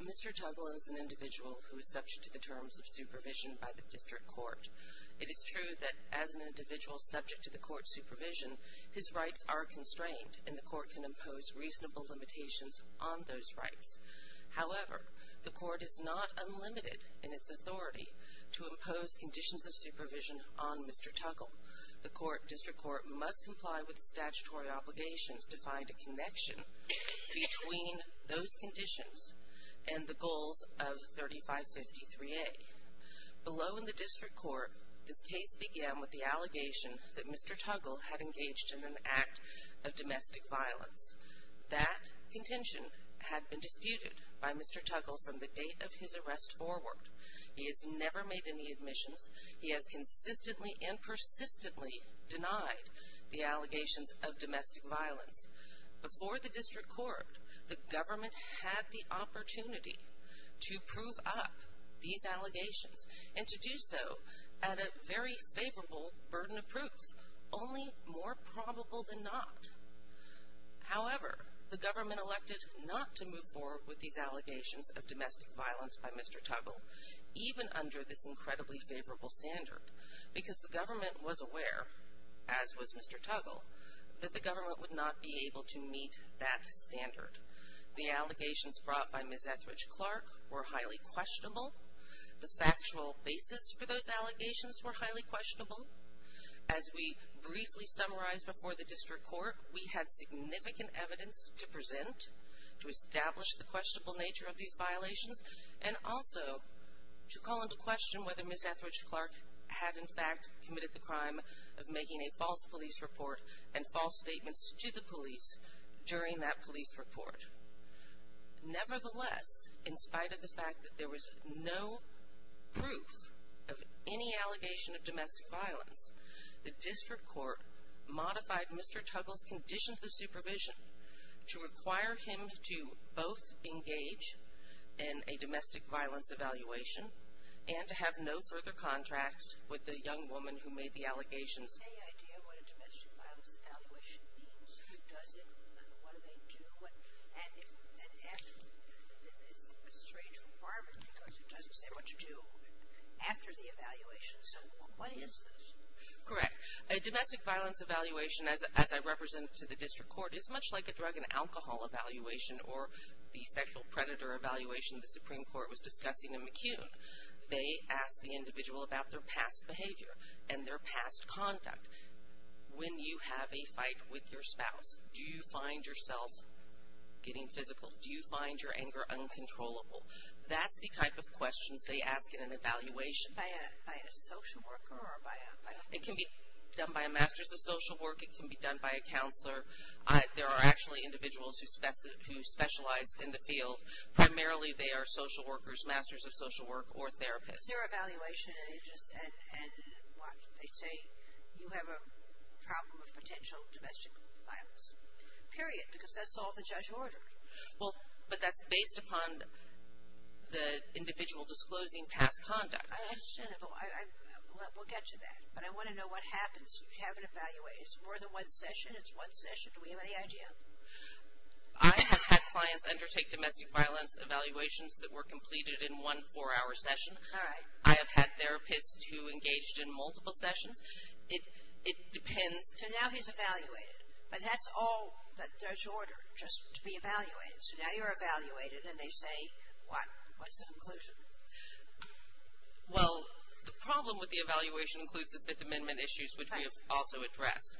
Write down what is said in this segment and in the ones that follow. Mr. Tuggle is an individual who is subject to the terms of supervision by the District Court. It is true that as an individual subject to the Court's supervision, his rights are constrained and the Court can impose reasonable limitations on those rights. However, the Court is not unlimited in its authority to impose conditions of supervision on Mr. Tuggle. The District Court must comply with the statutory obligations to find a connection between those conditions and the goals of 3553A. Below in the District Court, this case began with the allegation that Mr. Tuggle had engaged in an act of domestic violence. That contention had been disputed by Mr. Tuggle from the date of his arrest forward. He has never made any admissions. He has consistently and persistently denied the allegations of domestic violence. Before the District Court, the government had the opportunity to prove up these allegations and to do so at a very favorable burden of proof, only more probable than not. However, the government elected not to move forward with these allegations of domestic violence to a favorable standard because the government was aware, as was Mr. Tuggle, that the government would not be able to meet that standard. The allegations brought by Ms. Etheridge-Clark were highly questionable. The factual basis for those allegations were highly questionable. As we briefly summarized before the District Court, we had significant evidence to present to establish the questionable nature of these violations and also to call into question whether Ms. Etheridge-Clark had in fact committed the crime of making a false police report and false statements to the police during that police report. Nevertheless, in spite of the fact that there was no proof of any allegation of domestic violence, the District Court modified Mr. Tuggle's conditions of supervision to require him to both engage in a domestic violence evaluation and to have no further contract with the young woman who made the allegations. Do you have any idea what a domestic violence evaluation means? Who does it? What do they do? And it's a strange requirement because it doesn't say what to do after the evaluation. So, what is this? Correct. A domestic violence evaluation, as I represented to the District Court, is much like a drug and alcohol evaluation or the sexual predator evaluation the Supreme Court was discussing in McCune. They ask the individual about their past behavior and their past conduct. When you have a fight with your spouse, do you find yourself getting physical? Do you find your anger uncontrollable? That's the type of questions they ask in an evaluation. By a social worker or by a? It can be done by a master's of social work. It can be done by a counselor. There are actually individuals who specialize in the field. Primarily, they are social workers, masters of social work, or therapists. Their evaluation, they say you have a problem with potential domestic violence. Period. Because that's all the judge ordered. Well, but that's based upon the individual disclosing past conduct. I understand that, but we'll get to that. But I want to know what happens if you have an evaluation. It's more than one session. It's one session. Do we have any idea? I have had clients undertake domestic violence evaluations that were completed in one four-hour session. All right. I have had therapists who engaged in multiple sessions. It depends. So now he's evaluated. But that's all the judge ordered, just to be evaluated. So now you're evaluated, and they say, what? What's the conclusion? Well, the problem with the evaluation includes the Fifth Amendment issues, which we have also addressed.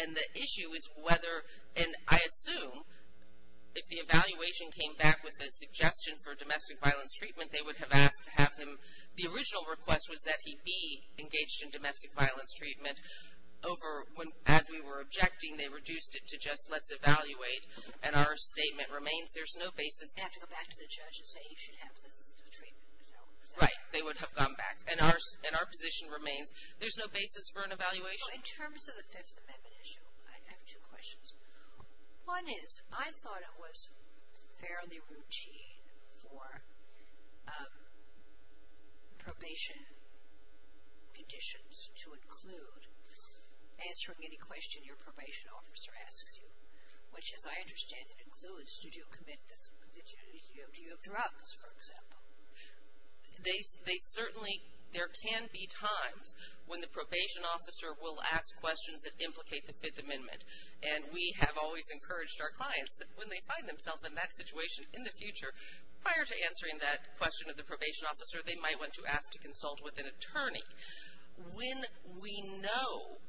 And the issue is whether, and I assume if the evaluation came back with a suggestion for domestic violence treatment, they would have asked to have him, the original request was that he be engaged in domestic violence treatment. Over, as we were objecting, they reduced it to just let's evaluate. And our statement remains there's no basis. You have to go back to the judge and say you should have this treatment. Right. They would have gone back. And our position remains there's no basis for an evaluation. In terms of the Fifth Amendment issue, I have two questions. One is, I thought it was fairly routine for probation conditions to include answering any question your probation officer asks you, which as I understand it includes, did you commit this, did you, do you have drugs, for example? They certainly, there can be times when the probation officer will ask questions that implicate the Fifth Amendment, and we have always encouraged our clients that when they find themselves in that situation in the future, prior to answering that question of the probation officer, they might want to ask to consult with an attorney. When we know,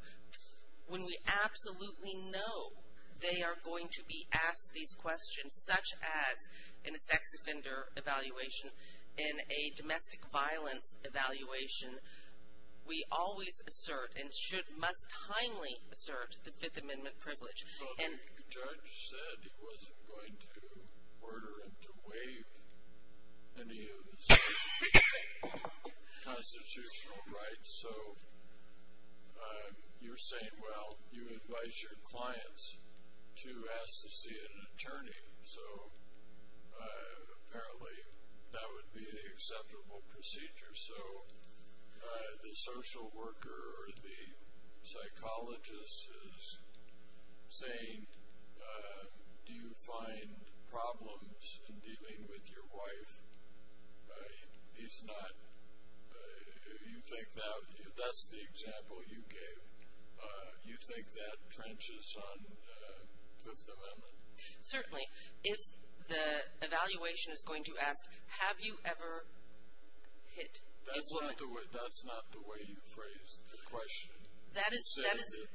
when we absolutely know they are going to be asked these questions, such as in a sex offender evaluation, in a domestic violence evaluation, we always assert and should, must kindly assert the Fifth Amendment privilege. Well, the judge said he wasn't going to order him to waive any of his constitutional rights, so you're saying, well, you advise your clients to ask to see an attorney, so apparently that would be an acceptable procedure. So, the social worker or the psychologist is saying, do you find problems in dealing with your wife? He's not, you think that, that's the example you gave. You think that trenches on Fifth Amendment? Certainly. If the evaluation is going to ask, have you ever hit a woman? That's not the way you phrased the question. That is. You said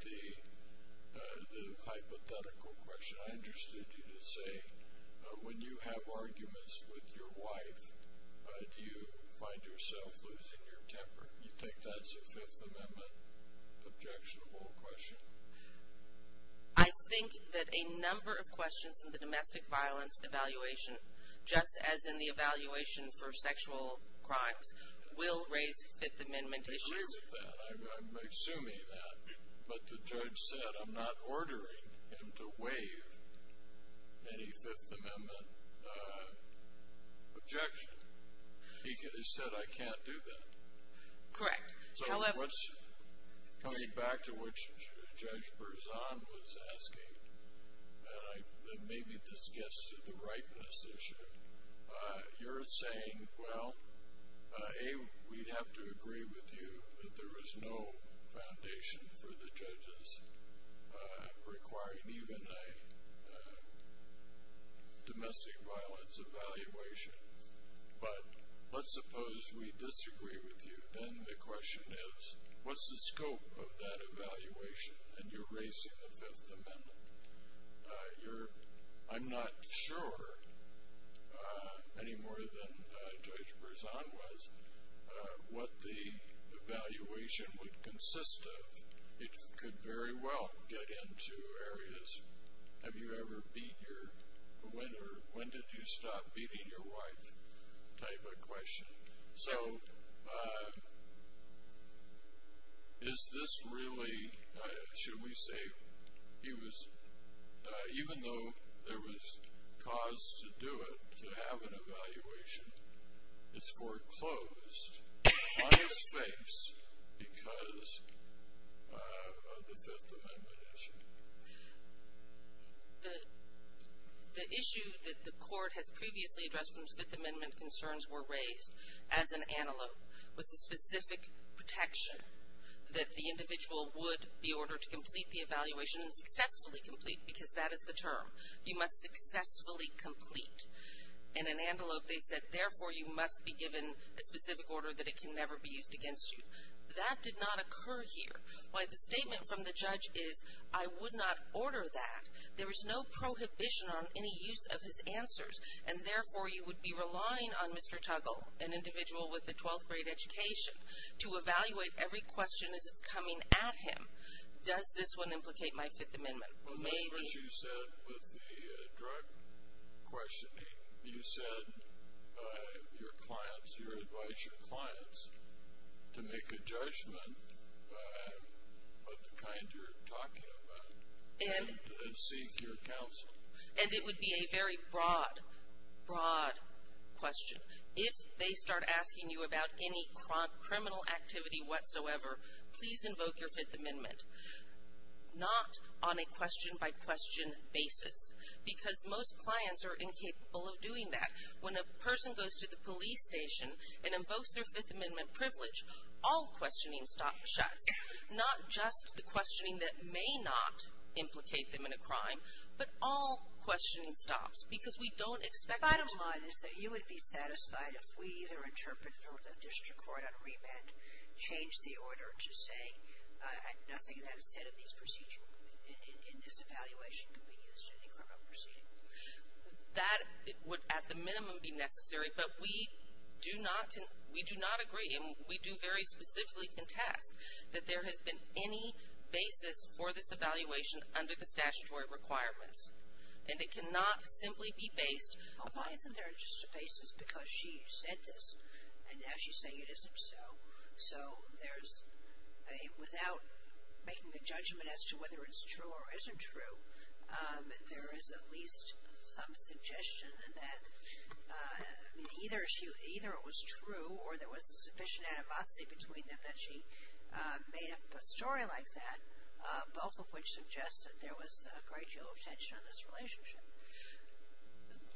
that the hypothetical question, I understood you to say, when you have arguments with your wife, do you find yourself losing your temper? You think that's a Fifth Amendment objectionable question? I think that a number of questions in the domestic violence evaluation, just as in the evaluation for sexual crimes, will raise Fifth Amendment issues. I agree with that. I'm assuming that, but the judge said I'm not ordering him to waive any Fifth Amendment objection. He said I can't do that. Correct. However, coming back to what Judge Berzon was asking, maybe this gets to the ripeness issue. You're saying, well, A, we'd have to agree with you that there is no foundation for the judges requiring even a domestic violence evaluation. But let's suppose we disagree with you. Then the question is, what's the scope of that evaluation? And you're raising the Fifth Amendment. I'm not sure, any more than Judge Berzon was, what the evaluation would consist of. It could very well get into areas, have you ever beat your, when did you stop beating your wife type of question. So is this really, should we say, even though there was cause to do it, to have an evaluation, it's foreclosed on his face because of the Fifth Amendment issue. The issue that the court has previously addressed when the Fifth Amendment concerns were raised as an antelope was the specific protection that the individual would be ordered to complete the evaluation and successfully complete, because that is the term. You must successfully complete. In an antelope, they said, therefore, you must be given a specific order that it can never be used against you. That did not occur here. Why, the statement from the judge is, I would not order that. There is no prohibition on any use of his answers. And therefore, you would be relying on Mr. Tuggle, an individual with a 12th grade education, to evaluate every question as it's coming at him. Does this one implicate my Fifth Amendment? Maybe. Well, that's what you said with the drug questioning. You said your clients, your advisor clients, to make a judgment of the kind you're talking about. And seek your counsel. And it would be a very broad, broad question. If they start asking you about any criminal activity whatsoever, please invoke your Fifth Amendment. Not on a question-by-question basis, because most clients are incapable of doing that. When a person goes to the police station and invokes their Fifth Amendment privilege, all questioning stops, shuts. Not just the questioning that may not implicate them in a crime, but all questioning stops. Because we don't expect them to. Bottom line is that you would be satisfied if we either interpret the district court on remand, change the order to say, nothing that is said in this evaluation could be used in a criminal proceeding. That would, at the minimum, be necessary. But we do not agree, and we do very specifically contest, that there has been any basis for this evaluation under the statutory requirements. And it cannot simply be based. Why isn't there just a basis? Because she said this, and now she's saying it isn't so. So there's a, without making a judgment as to whether it's true or isn't true, there is at least some suggestion that either it was true, or there was a sufficient animosity between them that she made up a story like that, both of which suggest that there was a great deal of tension in this relationship.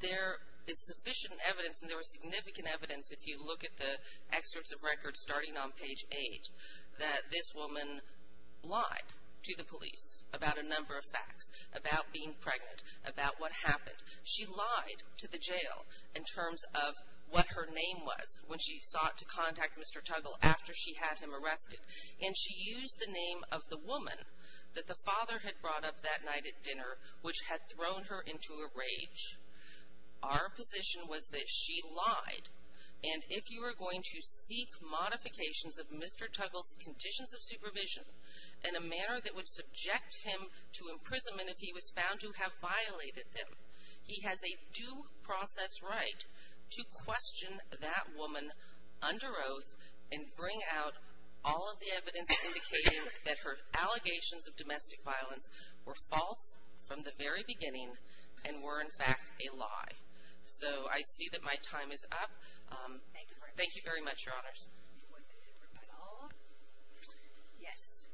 There is sufficient evidence, and there was significant evidence, if you look at the excerpts of records starting on page 8, that this woman lied to the police about a number of facts, about being pregnant, about what happened. She lied to the jail in terms of what her name was when she sought to contact Mr. Tuggle after she had him arrested. And she used the name of the woman that the father had brought up that night at dinner, which had thrown her into a rage. Our position was that she lied. And if you are going to seek modifications of Mr. Tuggle's conditions of supervision in a manner that would subject him to imprisonment if he was found to have violated them, he has a due process right to question that woman under oath and bring out all of the evidence indicating that her allegations of domestic violence were false from the very beginning, and were, in fact, a lie. So I see that my time is up. Thank you very much, Your Honors. Do you want to interrupt at all? Yes.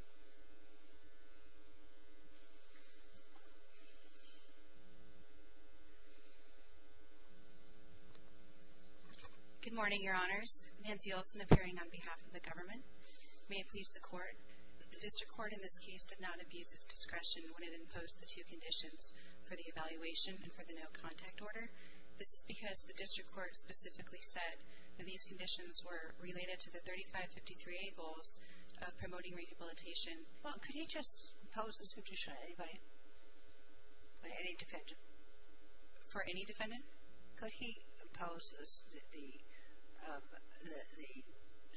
Good morning, Your Honors. Nancy Olson appearing on behalf of the government. May it please the Court. The District Court in this case did not abuse its discretion when it imposed the two conditions for the evaluation and for the no contact order. This is because the District Court specifically said that these conditions were related to the 3553A goals of promoting rehabilitation. Well, could he just impose this condition on anybody? On any defendant? For any defendant? Could he impose the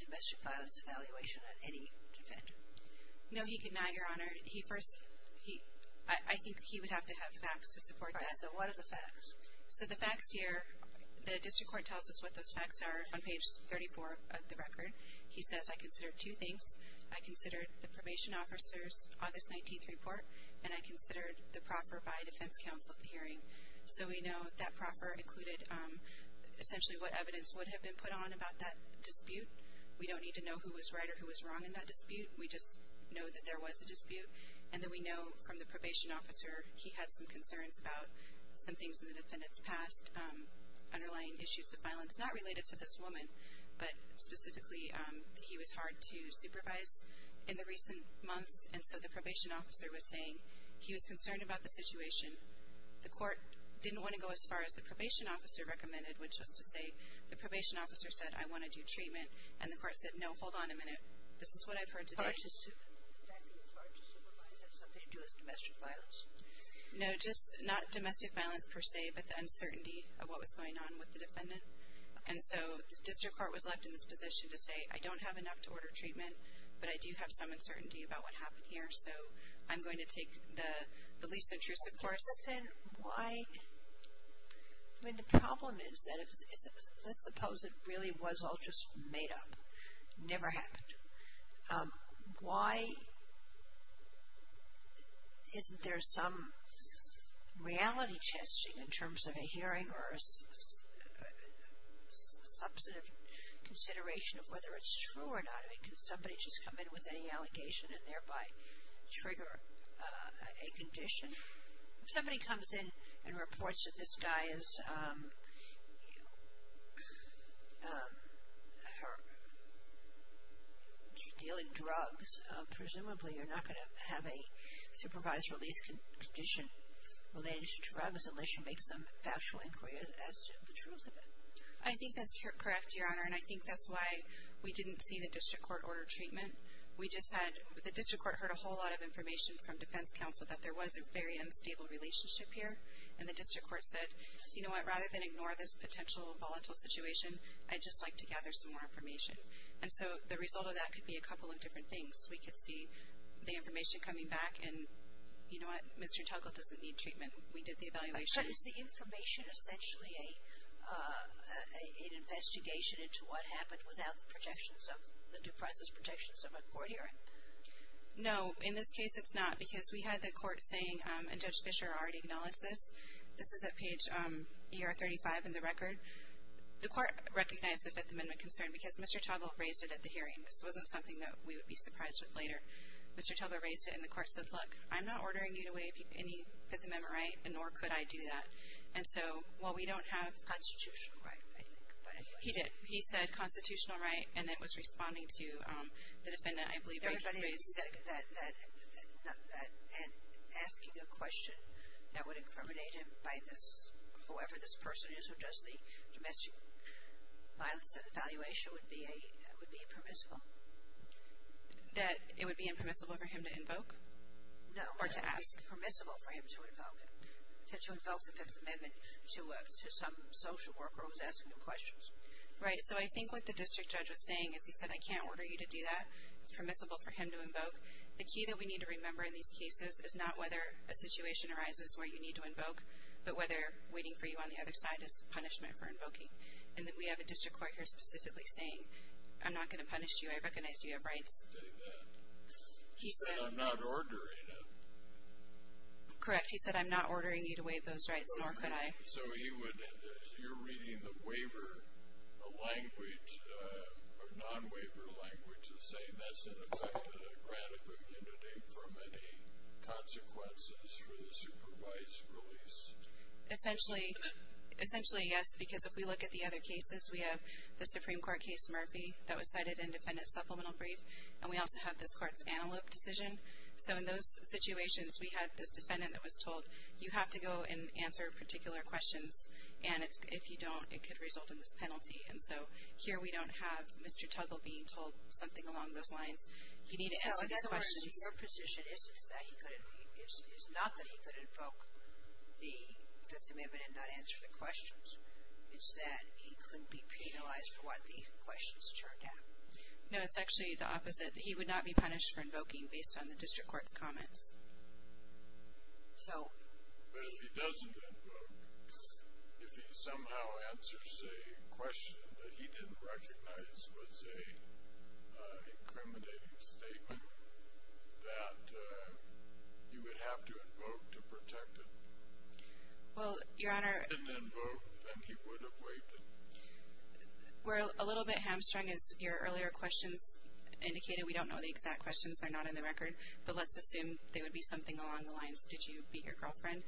domestic violence evaluation on any defendant? No, he could not, Your Honor. So what are the facts? So the facts here, the District Court tells us what those facts are on page 34 of the record. He says, I considered two things. I considered the probation officer's August 19th report, and I considered the proffer by a defense counsel at the hearing. So we know that proffer included essentially what evidence would have been put on about that dispute. We don't need to know who was right or who was wrong in that dispute. We just know that there was a dispute, and that we know from the probation officer he had some concerns about some things in the defendant's past, underlying issues of violence, not related to this woman, but specifically that he was hard to supervise in the recent months, and so the probation officer was saying he was concerned about the situation. The court didn't want to go as far as the probation officer recommended, which was to say the probation officer said, I want to do treatment, and the court said, no, hold on a minute. This is what I've heard today. The fact that he was hard to supervise had something to do with domestic violence? No, just not domestic violence per se, but the uncertainty of what was going on with the defendant, and so the district court was left in this position to say, I don't have enough to order treatment, but I do have some uncertainty about what happened here, so I'm going to take the least intrusive course. But then why? I mean, the problem is that let's suppose it really was all just made up. It never happened. Why isn't there some reality testing in terms of a hearing or a substantive consideration of whether it's true or not? I mean, can somebody just come in with any allegation and thereby trigger a condition? If somebody comes in and reports that this guy is dealing drugs, presumably you're not going to have a supervised release condition related to drugs unless you make some factual inquiry as to the truth of it. I think that's correct, Your Honor, and I think that's why we didn't see the district court order treatment. The district court heard a whole lot of information from defense counsel that there was a very unstable relationship here, and the district court said, you know what, rather than ignore this potential volatile situation, I'd just like to gather some more information. And so the result of that could be a couple of different things. We could see the information coming back and, you know what, Mr. Tuggle doesn't need treatment. We did the evaluation. But is the information essentially an investigation into what happened without the projections of the due process projections of a court hearing? No, in this case it's not, because we had the court saying, and Judge Fischer already acknowledged this, this is at page ER 35 in the record. The court recognized the Fifth Amendment concern because Mr. Tuggle raised it at the hearing. This wasn't something that we would be surprised with later. Mr. Tuggle raised it, and the court said, look, I'm not ordering you to waive any Fifth Amendment right, nor could I do that. And so, well, we don't have constitutional right, I think. He did. He said constitutional right, and it was responding to the defendant, I believe, Rachel raised. He said that asking a question that would incriminate him by this, whoever this person is or does the domestic violence and evaluation would be impermissible. That it would be impermissible for him to invoke? No. Or to ask. It would be permissible for him to invoke the Fifth Amendment to some social worker who was asking him questions. Right, so I think what the district judge was saying is he said, I can't order you to invoke. The key that we need to remember in these cases is not whether a situation arises where you need to invoke, but whether waiting for you on the other side is punishment for invoking. And we have a district court here specifically saying, I'm not going to punish you. I recognize you have rights. He said, I'm not ordering him. Correct. He said, I'm not ordering you to waive those rights, nor could I. So he would, you're reading the waiver language, non-waiver language to say that's in effect a grant of immunity for many consequences for the supervised release. Essentially, yes. Because if we look at the other cases, we have the Supreme Court case Murphy that was cited in defendant's supplemental brief. And we also have this court's Antelope decision. So in those situations, we had this defendant that was told, you have to go and answer particular questions. And if you don't, it could result in this penalty. And so, here we don't have Mr. Tuggle being told something along those lines. You need to answer these questions. So in other words, your position is not that he could invoke the Fifth Amendment and not answer the questions. It's that he couldn't be penalized for what the questions turned out. No, it's actually the opposite. He would not be punished for invoking based on the district court's comments. But if he doesn't invoke, if he somehow answers a question that he didn't recognize was an incriminating statement, that you would have to invoke to protect it. Well, Your Honor... If he didn't invoke, then he would have waived it. We're a little bit hamstrung as your earlier questions indicated. We don't know the exact questions. They're not in the record. But let's assume they would be something along the lines, did you beat your girlfriend?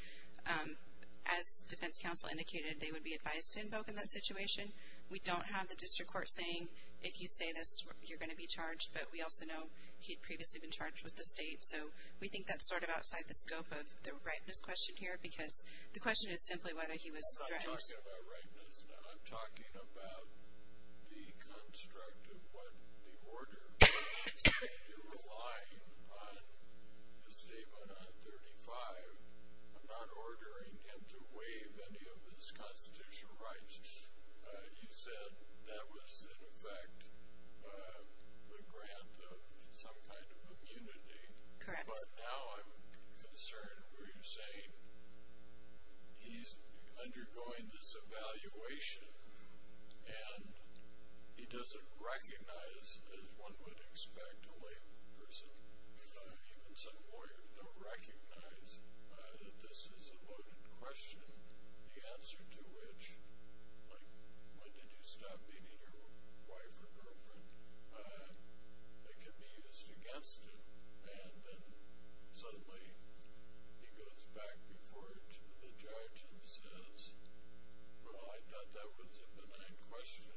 As defense counsel indicated, they would be advised to invoke in that situation. We don't have the district court saying, if you say this, you're going to be charged. But we also know he'd previously been charged with the state. So we think that's sort of outside the scope of the rightness question here because the question is simply whether he was threatened. I'm not talking about rightness. I'm talking about the construct of what the order is. You're relying on a statement on 35. I'm not ordering him to write. You said that was in effect a grant of some kind of immunity. Correct. But now I'm concerned where you're saying he's undergoing this evaluation and he doesn't recognize, as one would expect a lay person, even some lawyers don't recognize that this is a voted question. The answer to which, like, when did you stop beating your wife or girlfriend, it can be used against him. And then suddenly he goes back before the judge and says, well, I thought that was a benign question.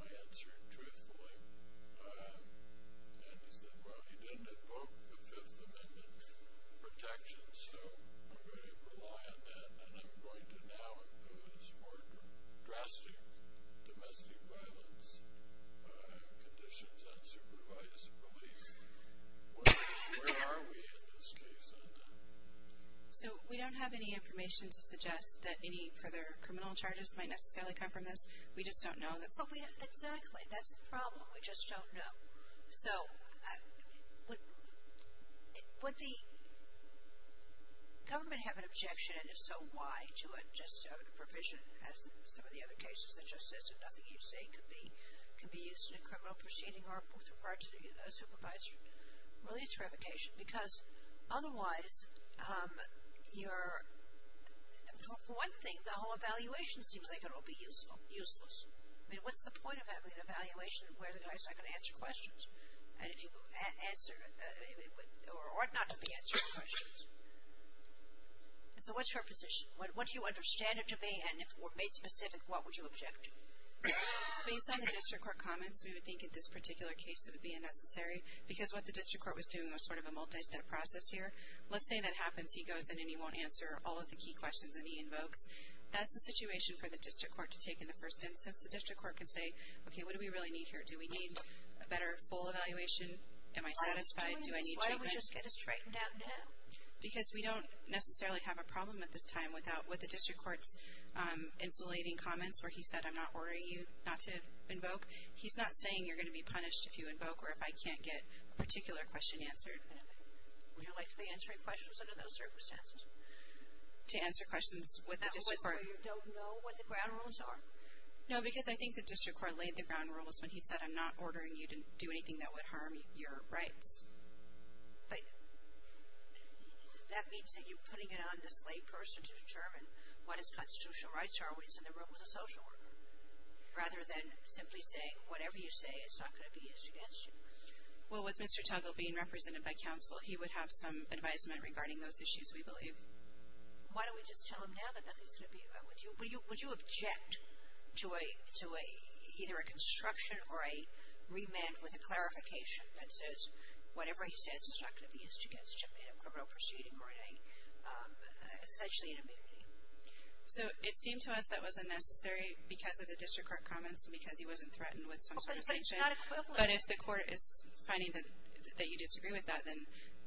I answered truthfully. And he said, well, he didn't invoke the Fifth Amendment protection, so I'm going to rely on that and I'm going to now impose more drastic domestic violence conditions on supervised police. Where are we in this case? So we don't have any information to suggest that any further criminal charges might necessarily come from this. We just don't know. Exactly. That's the problem. We just don't know. So would would the government have an objection, and if so, why, to a provision as some of the other cases that just says if nothing you say could be used in a criminal proceeding or with regard to a supervised release revocation? Because otherwise your one thing, the whole evaluation seems like it will be useless. I mean, what's the point of having an evaluation where the guy's not going to answer questions? Or not be answering questions? So what's your position? What do you understand it to be, and if made specific, what would you object to? Based on the district court comments, we would think in this particular case it would be unnecessary, because what the district court was doing was sort of a multi-step process here. Let's say that happens, he goes in and he won't answer all of the key questions and he invokes. That's a situation for the district court to take in the first instance. The district court can say, okay, what do we really need here? Do we need a better full evaluation? Am I satisfied? Do I need treatment? Why don't we just get this straightened out now? Because we don't necessarily have a problem at this time with the district court's insulating comments where he said I'm not ordering you not to invoke. He's not saying you're going to be punished if you invoke or if I can't get a particular question answered. Would you like to be answering questions under those circumstances? To answer questions with the district court? That way you don't know what the ground rules are? No, because I think the district court laid the ground rules when he said I'm not ordering you to do anything that would harm your rights. But that means that you're putting it on this lay person to determine what his constitutional rights are when he's in the room with a social worker, rather than simply saying whatever you say is not going to be used against you. Well, with Mr. Tuggle being represented by counsel, he would have some advisement regarding those issues, we believe. Why don't we just tell him now that nothing's going to be Would you object to either a construction or a remand with a clarification that says whatever he says is not going to be used against you in a criminal proceeding or essentially an amnesty? So it seemed to us that was unnecessary because of the district court comments and because he wasn't threatened with some sort of sanction. But it's not equivalent. But if the court is finding that you disagree with that, then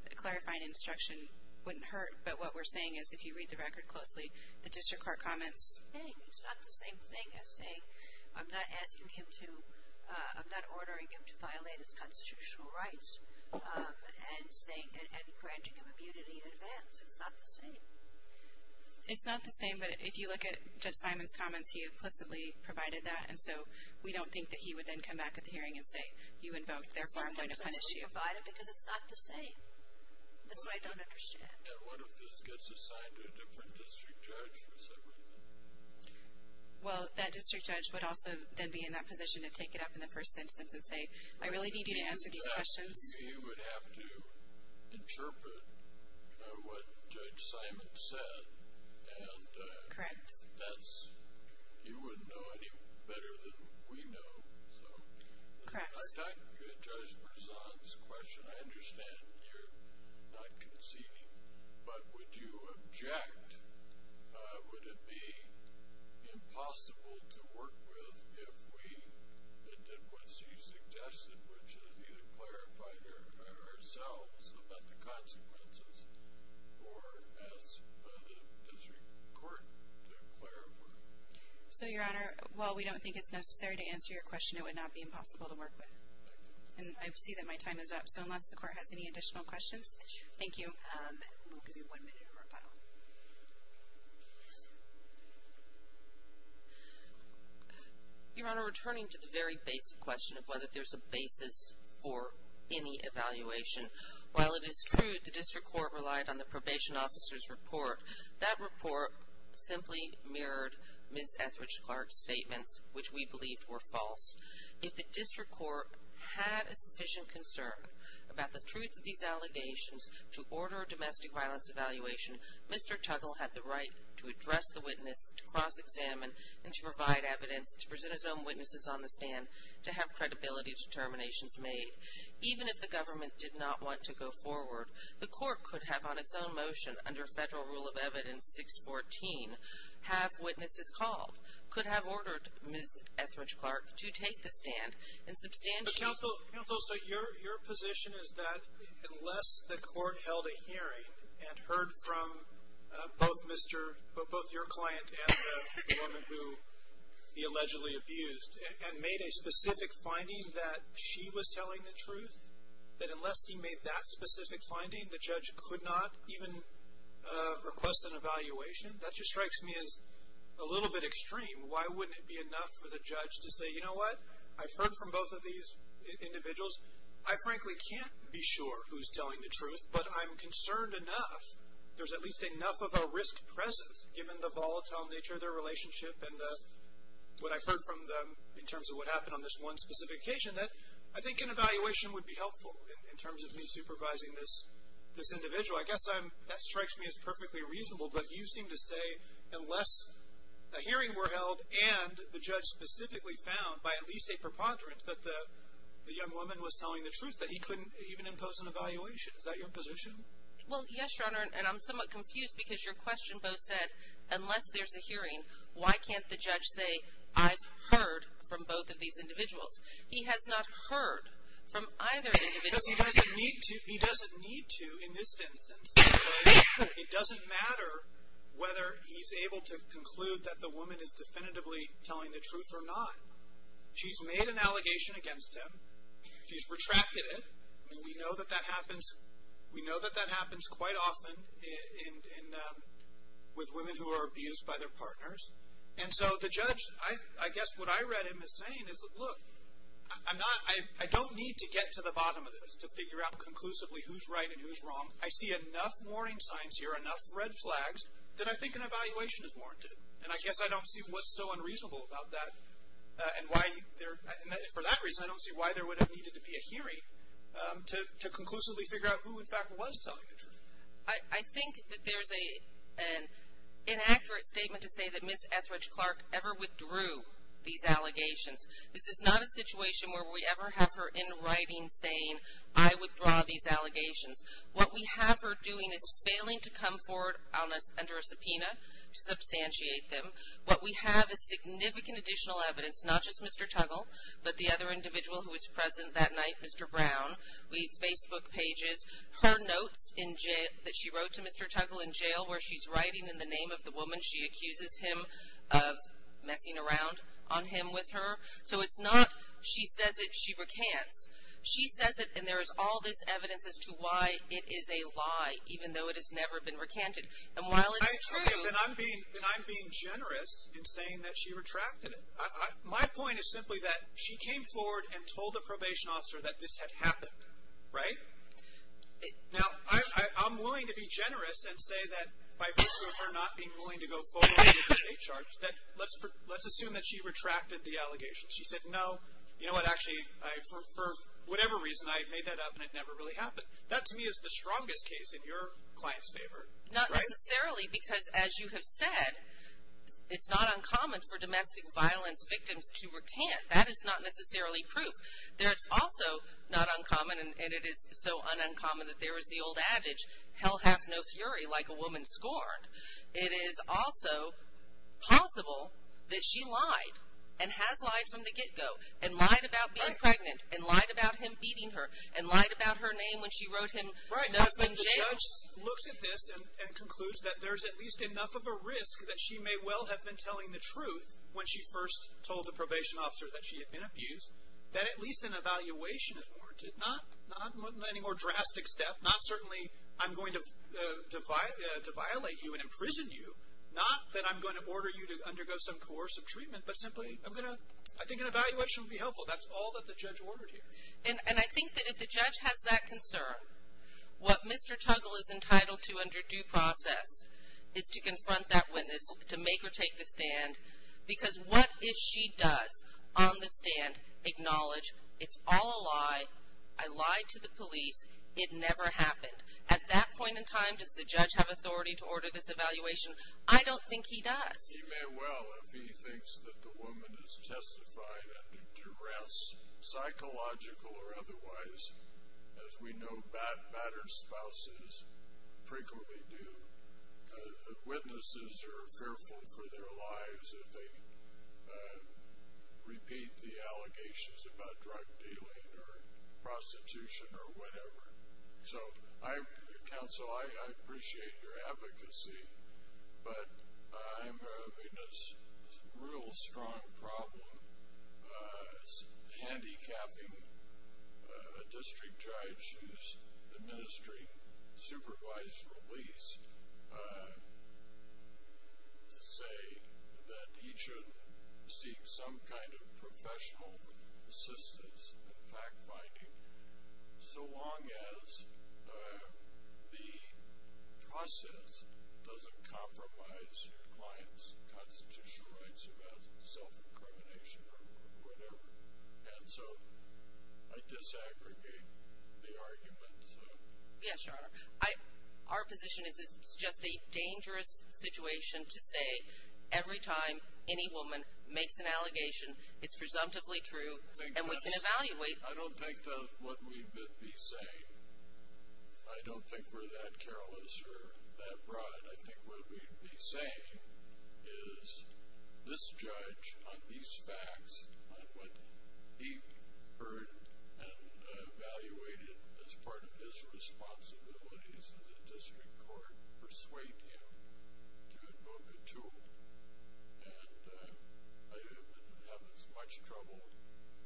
a clarifying instruction wouldn't hurt. But what we're saying is if you read the record closely, the district court comments It's not the same thing as saying I'm not asking him to I'm not ordering him to violate his constitutional rights and granting him immunity in advance. It's not the same. It's not the same, but if you look at Judge Simon's comments, he implicitly provided that, and so we don't think that he would then come back at the hearing and say, you invoked, therefore I'm going to punish you. That's what I don't understand. And what if this gets assigned to a different district judge or something? Well, that district judge would also then be in that position to take it up in the first instance and say, I really need you to answer these questions. You would have to interpret what Judge Simon said. Correct. He wouldn't know any better than we know. Correct. I understand you're not conceding, but would you object? Would it be impossible to work with if we did what she suggested, which is either clarify ourselves about the consequences or ask the district court to clarify? So, Your Honor, while we don't think it's necessary to answer your question, it would not be impossible to work with. And I see that my time is up, so unless the court has any additional questions, thank you. We'll give you one minute for rebuttal. Your Honor, returning to the very basic question of whether there's a basis for any evaluation, while it is true the district court relied on the probation officer's report, that report simply mirrored Ms. Etheridge-Clark's statements, which we believed were false. If the district court had a sufficient concern about the truth of these allegations to order a domestic violence evaluation, Mr. Tuggle had the right to address the witness, to cross-examine, and to provide evidence, to present his own witnesses on the stand, to have credibility determinations made. Even if the government did not want to go forward, the court could have on its own motion, under federal rule of evidence 614, have witnesses called, could have ordered Ms. Etheridge-Clark to take the stand. Counsel, your position is that unless the court held a hearing, and heard from both your client and the woman who he allegedly abused, and made a specific finding that she was telling the truth, that unless he made that specific finding, the judge could not even request an evaluation? That just strikes me as a little bit extreme. Why wouldn't it be enough for the judge to say, you know what, I've heard from both of these individuals, I frankly can't be sure who's telling the truth, but I'm concerned enough, there's at least enough of a risk presence given the volatile nature of their relationship and what I've heard from them in terms of what happened on this one specific occasion, that I think an evaluation would be helpful in terms of me supervising this individual. I guess that strikes me as perfectly reasonable, but you seem to say, unless a hearing were held, and the judge specifically found, by at least a preponderance, that the young woman was telling the truth, that he couldn't even impose an evaluation. Is that your position? Well, yes, Your Honor, and I'm somewhat confused, because your question, Bo, said unless there's a hearing, why can't the judge say, I've heard from both of these individuals? He has not heard from either individual. Because he doesn't need to, he doesn't need to, in this instance. It doesn't matter whether he's able to conclude that the woman is definitively telling the truth or not. She's made an allegation against him, she's retracted it, and we know that that happens, we know that that happens quite often with women who are abused by their partners, and so the judge, I guess what I read him as saying is, look, I don't need to get to the bottom of this to figure out conclusively who's right and who's wrong. I see enough warning signs here, enough red flags, that I think an evaluation is warranted. And I guess I don't see what's so unreasonable about that, and why for that reason, I don't see why there would have needed to be a hearing to conclusively figure out who, in fact, was telling the truth. I think that there's an inaccurate statement to say that Ms. Etheridge-Clark ever withdrew these allegations. This is not a situation where we ever have her in writing saying, I withdraw these allegations. What we have her doing is failing to come forward under a subpoena to substantiate them. What we have is significant additional evidence, not just Mr. Tuggle, but the other individual who was present that night, Mr. Brown. We have Facebook pages, her notes that she wrote to Mr. Tuggle in jail where she's writing in the name of the woman she accuses him of messing around on him with her. So it's not, she says it, she recants. She says it and there is all this evidence as to why it is a lie, even though it has never been recanted. And while it's true... Okay, then I'm being generous in saying that she retracted it. My point is simply that she came forward and told the probation officer that this had happened, right? Now, I'm willing to be generous and say that by virtue of her not being willing to go forward with the state charge, that let's assume that she retracted the allegations. She said, no, you know what, actually, for whatever reason, I made that up and it never really happened. That to me is the strongest case in your client's favor, right? Not necessarily because as you have said, it's not uncommon for domestic violence victims to recant. That is not necessarily proof. That's also not uncommon and it is so ununcommon that there is the old adage, hell hath no fury like a woman scorned. It is also possible that she lied and has lied from the get-go and lied about being pregnant and lied about him beating her and lied about her name when she wrote him up in jail. The judge looks at this and concludes that there is at least enough of a risk that she may well have been telling the truth when she first told the probation officer that she had been abused, that at least an evaluation is warranted. Not any more drastic step. Not certainly I'm going to violate you and imprison you. Not that I'm going to order you to undergo some course of treatment, but simply I'm going to I think an evaluation would be helpful. That's all that the judge ordered here. And I think that if the judge has that concern, what Mr. Tuggle is entitled to under due process is to confront that witness, to make or take the stand, because what if she does on the stand acknowledge it's all a lie, I lied to the police, it never happened. At that point in time, does the judge have authority to order this evaluation? I don't think he does. He may well, if he thinks that the woman has testified under duress, psychological or otherwise. As we know, battered spouses frequently do. Witnesses are fearful for their lives if they repeat the allegations about drug dealing or prostitution or whatever. So, counsel, I appreciate your advocacy, but I'm having this real strong problem handicapping a district judge who's administering supervised release to say that he shouldn't seek some kind of professional assistance in fact-finding so long as the process doesn't compromise your client's constitutional rights about self-incrimination or whatever. And so, I disaggregate the argument. Yes, Your Honor. Our position is it's just a dangerous situation to say every time any woman makes an allegation it's presumptively true, and we can evaluate. I don't think that what we may be saying, I don't think we're that careless or that broad. I think what we'd be saying is this judge on these facts, on what he heard and evaluated as part of his responsibilities in the district court persuade him to invoke a tool. And I have as much trouble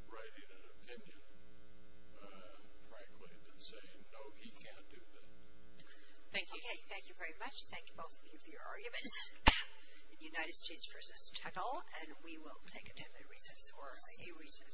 writing an opinion frankly, than saying no, he can't do that. Thank you. Okay, thank you very much. Thank you both of you for your arguments. United States v. Tuttle and we will take a temporary recess or a recess.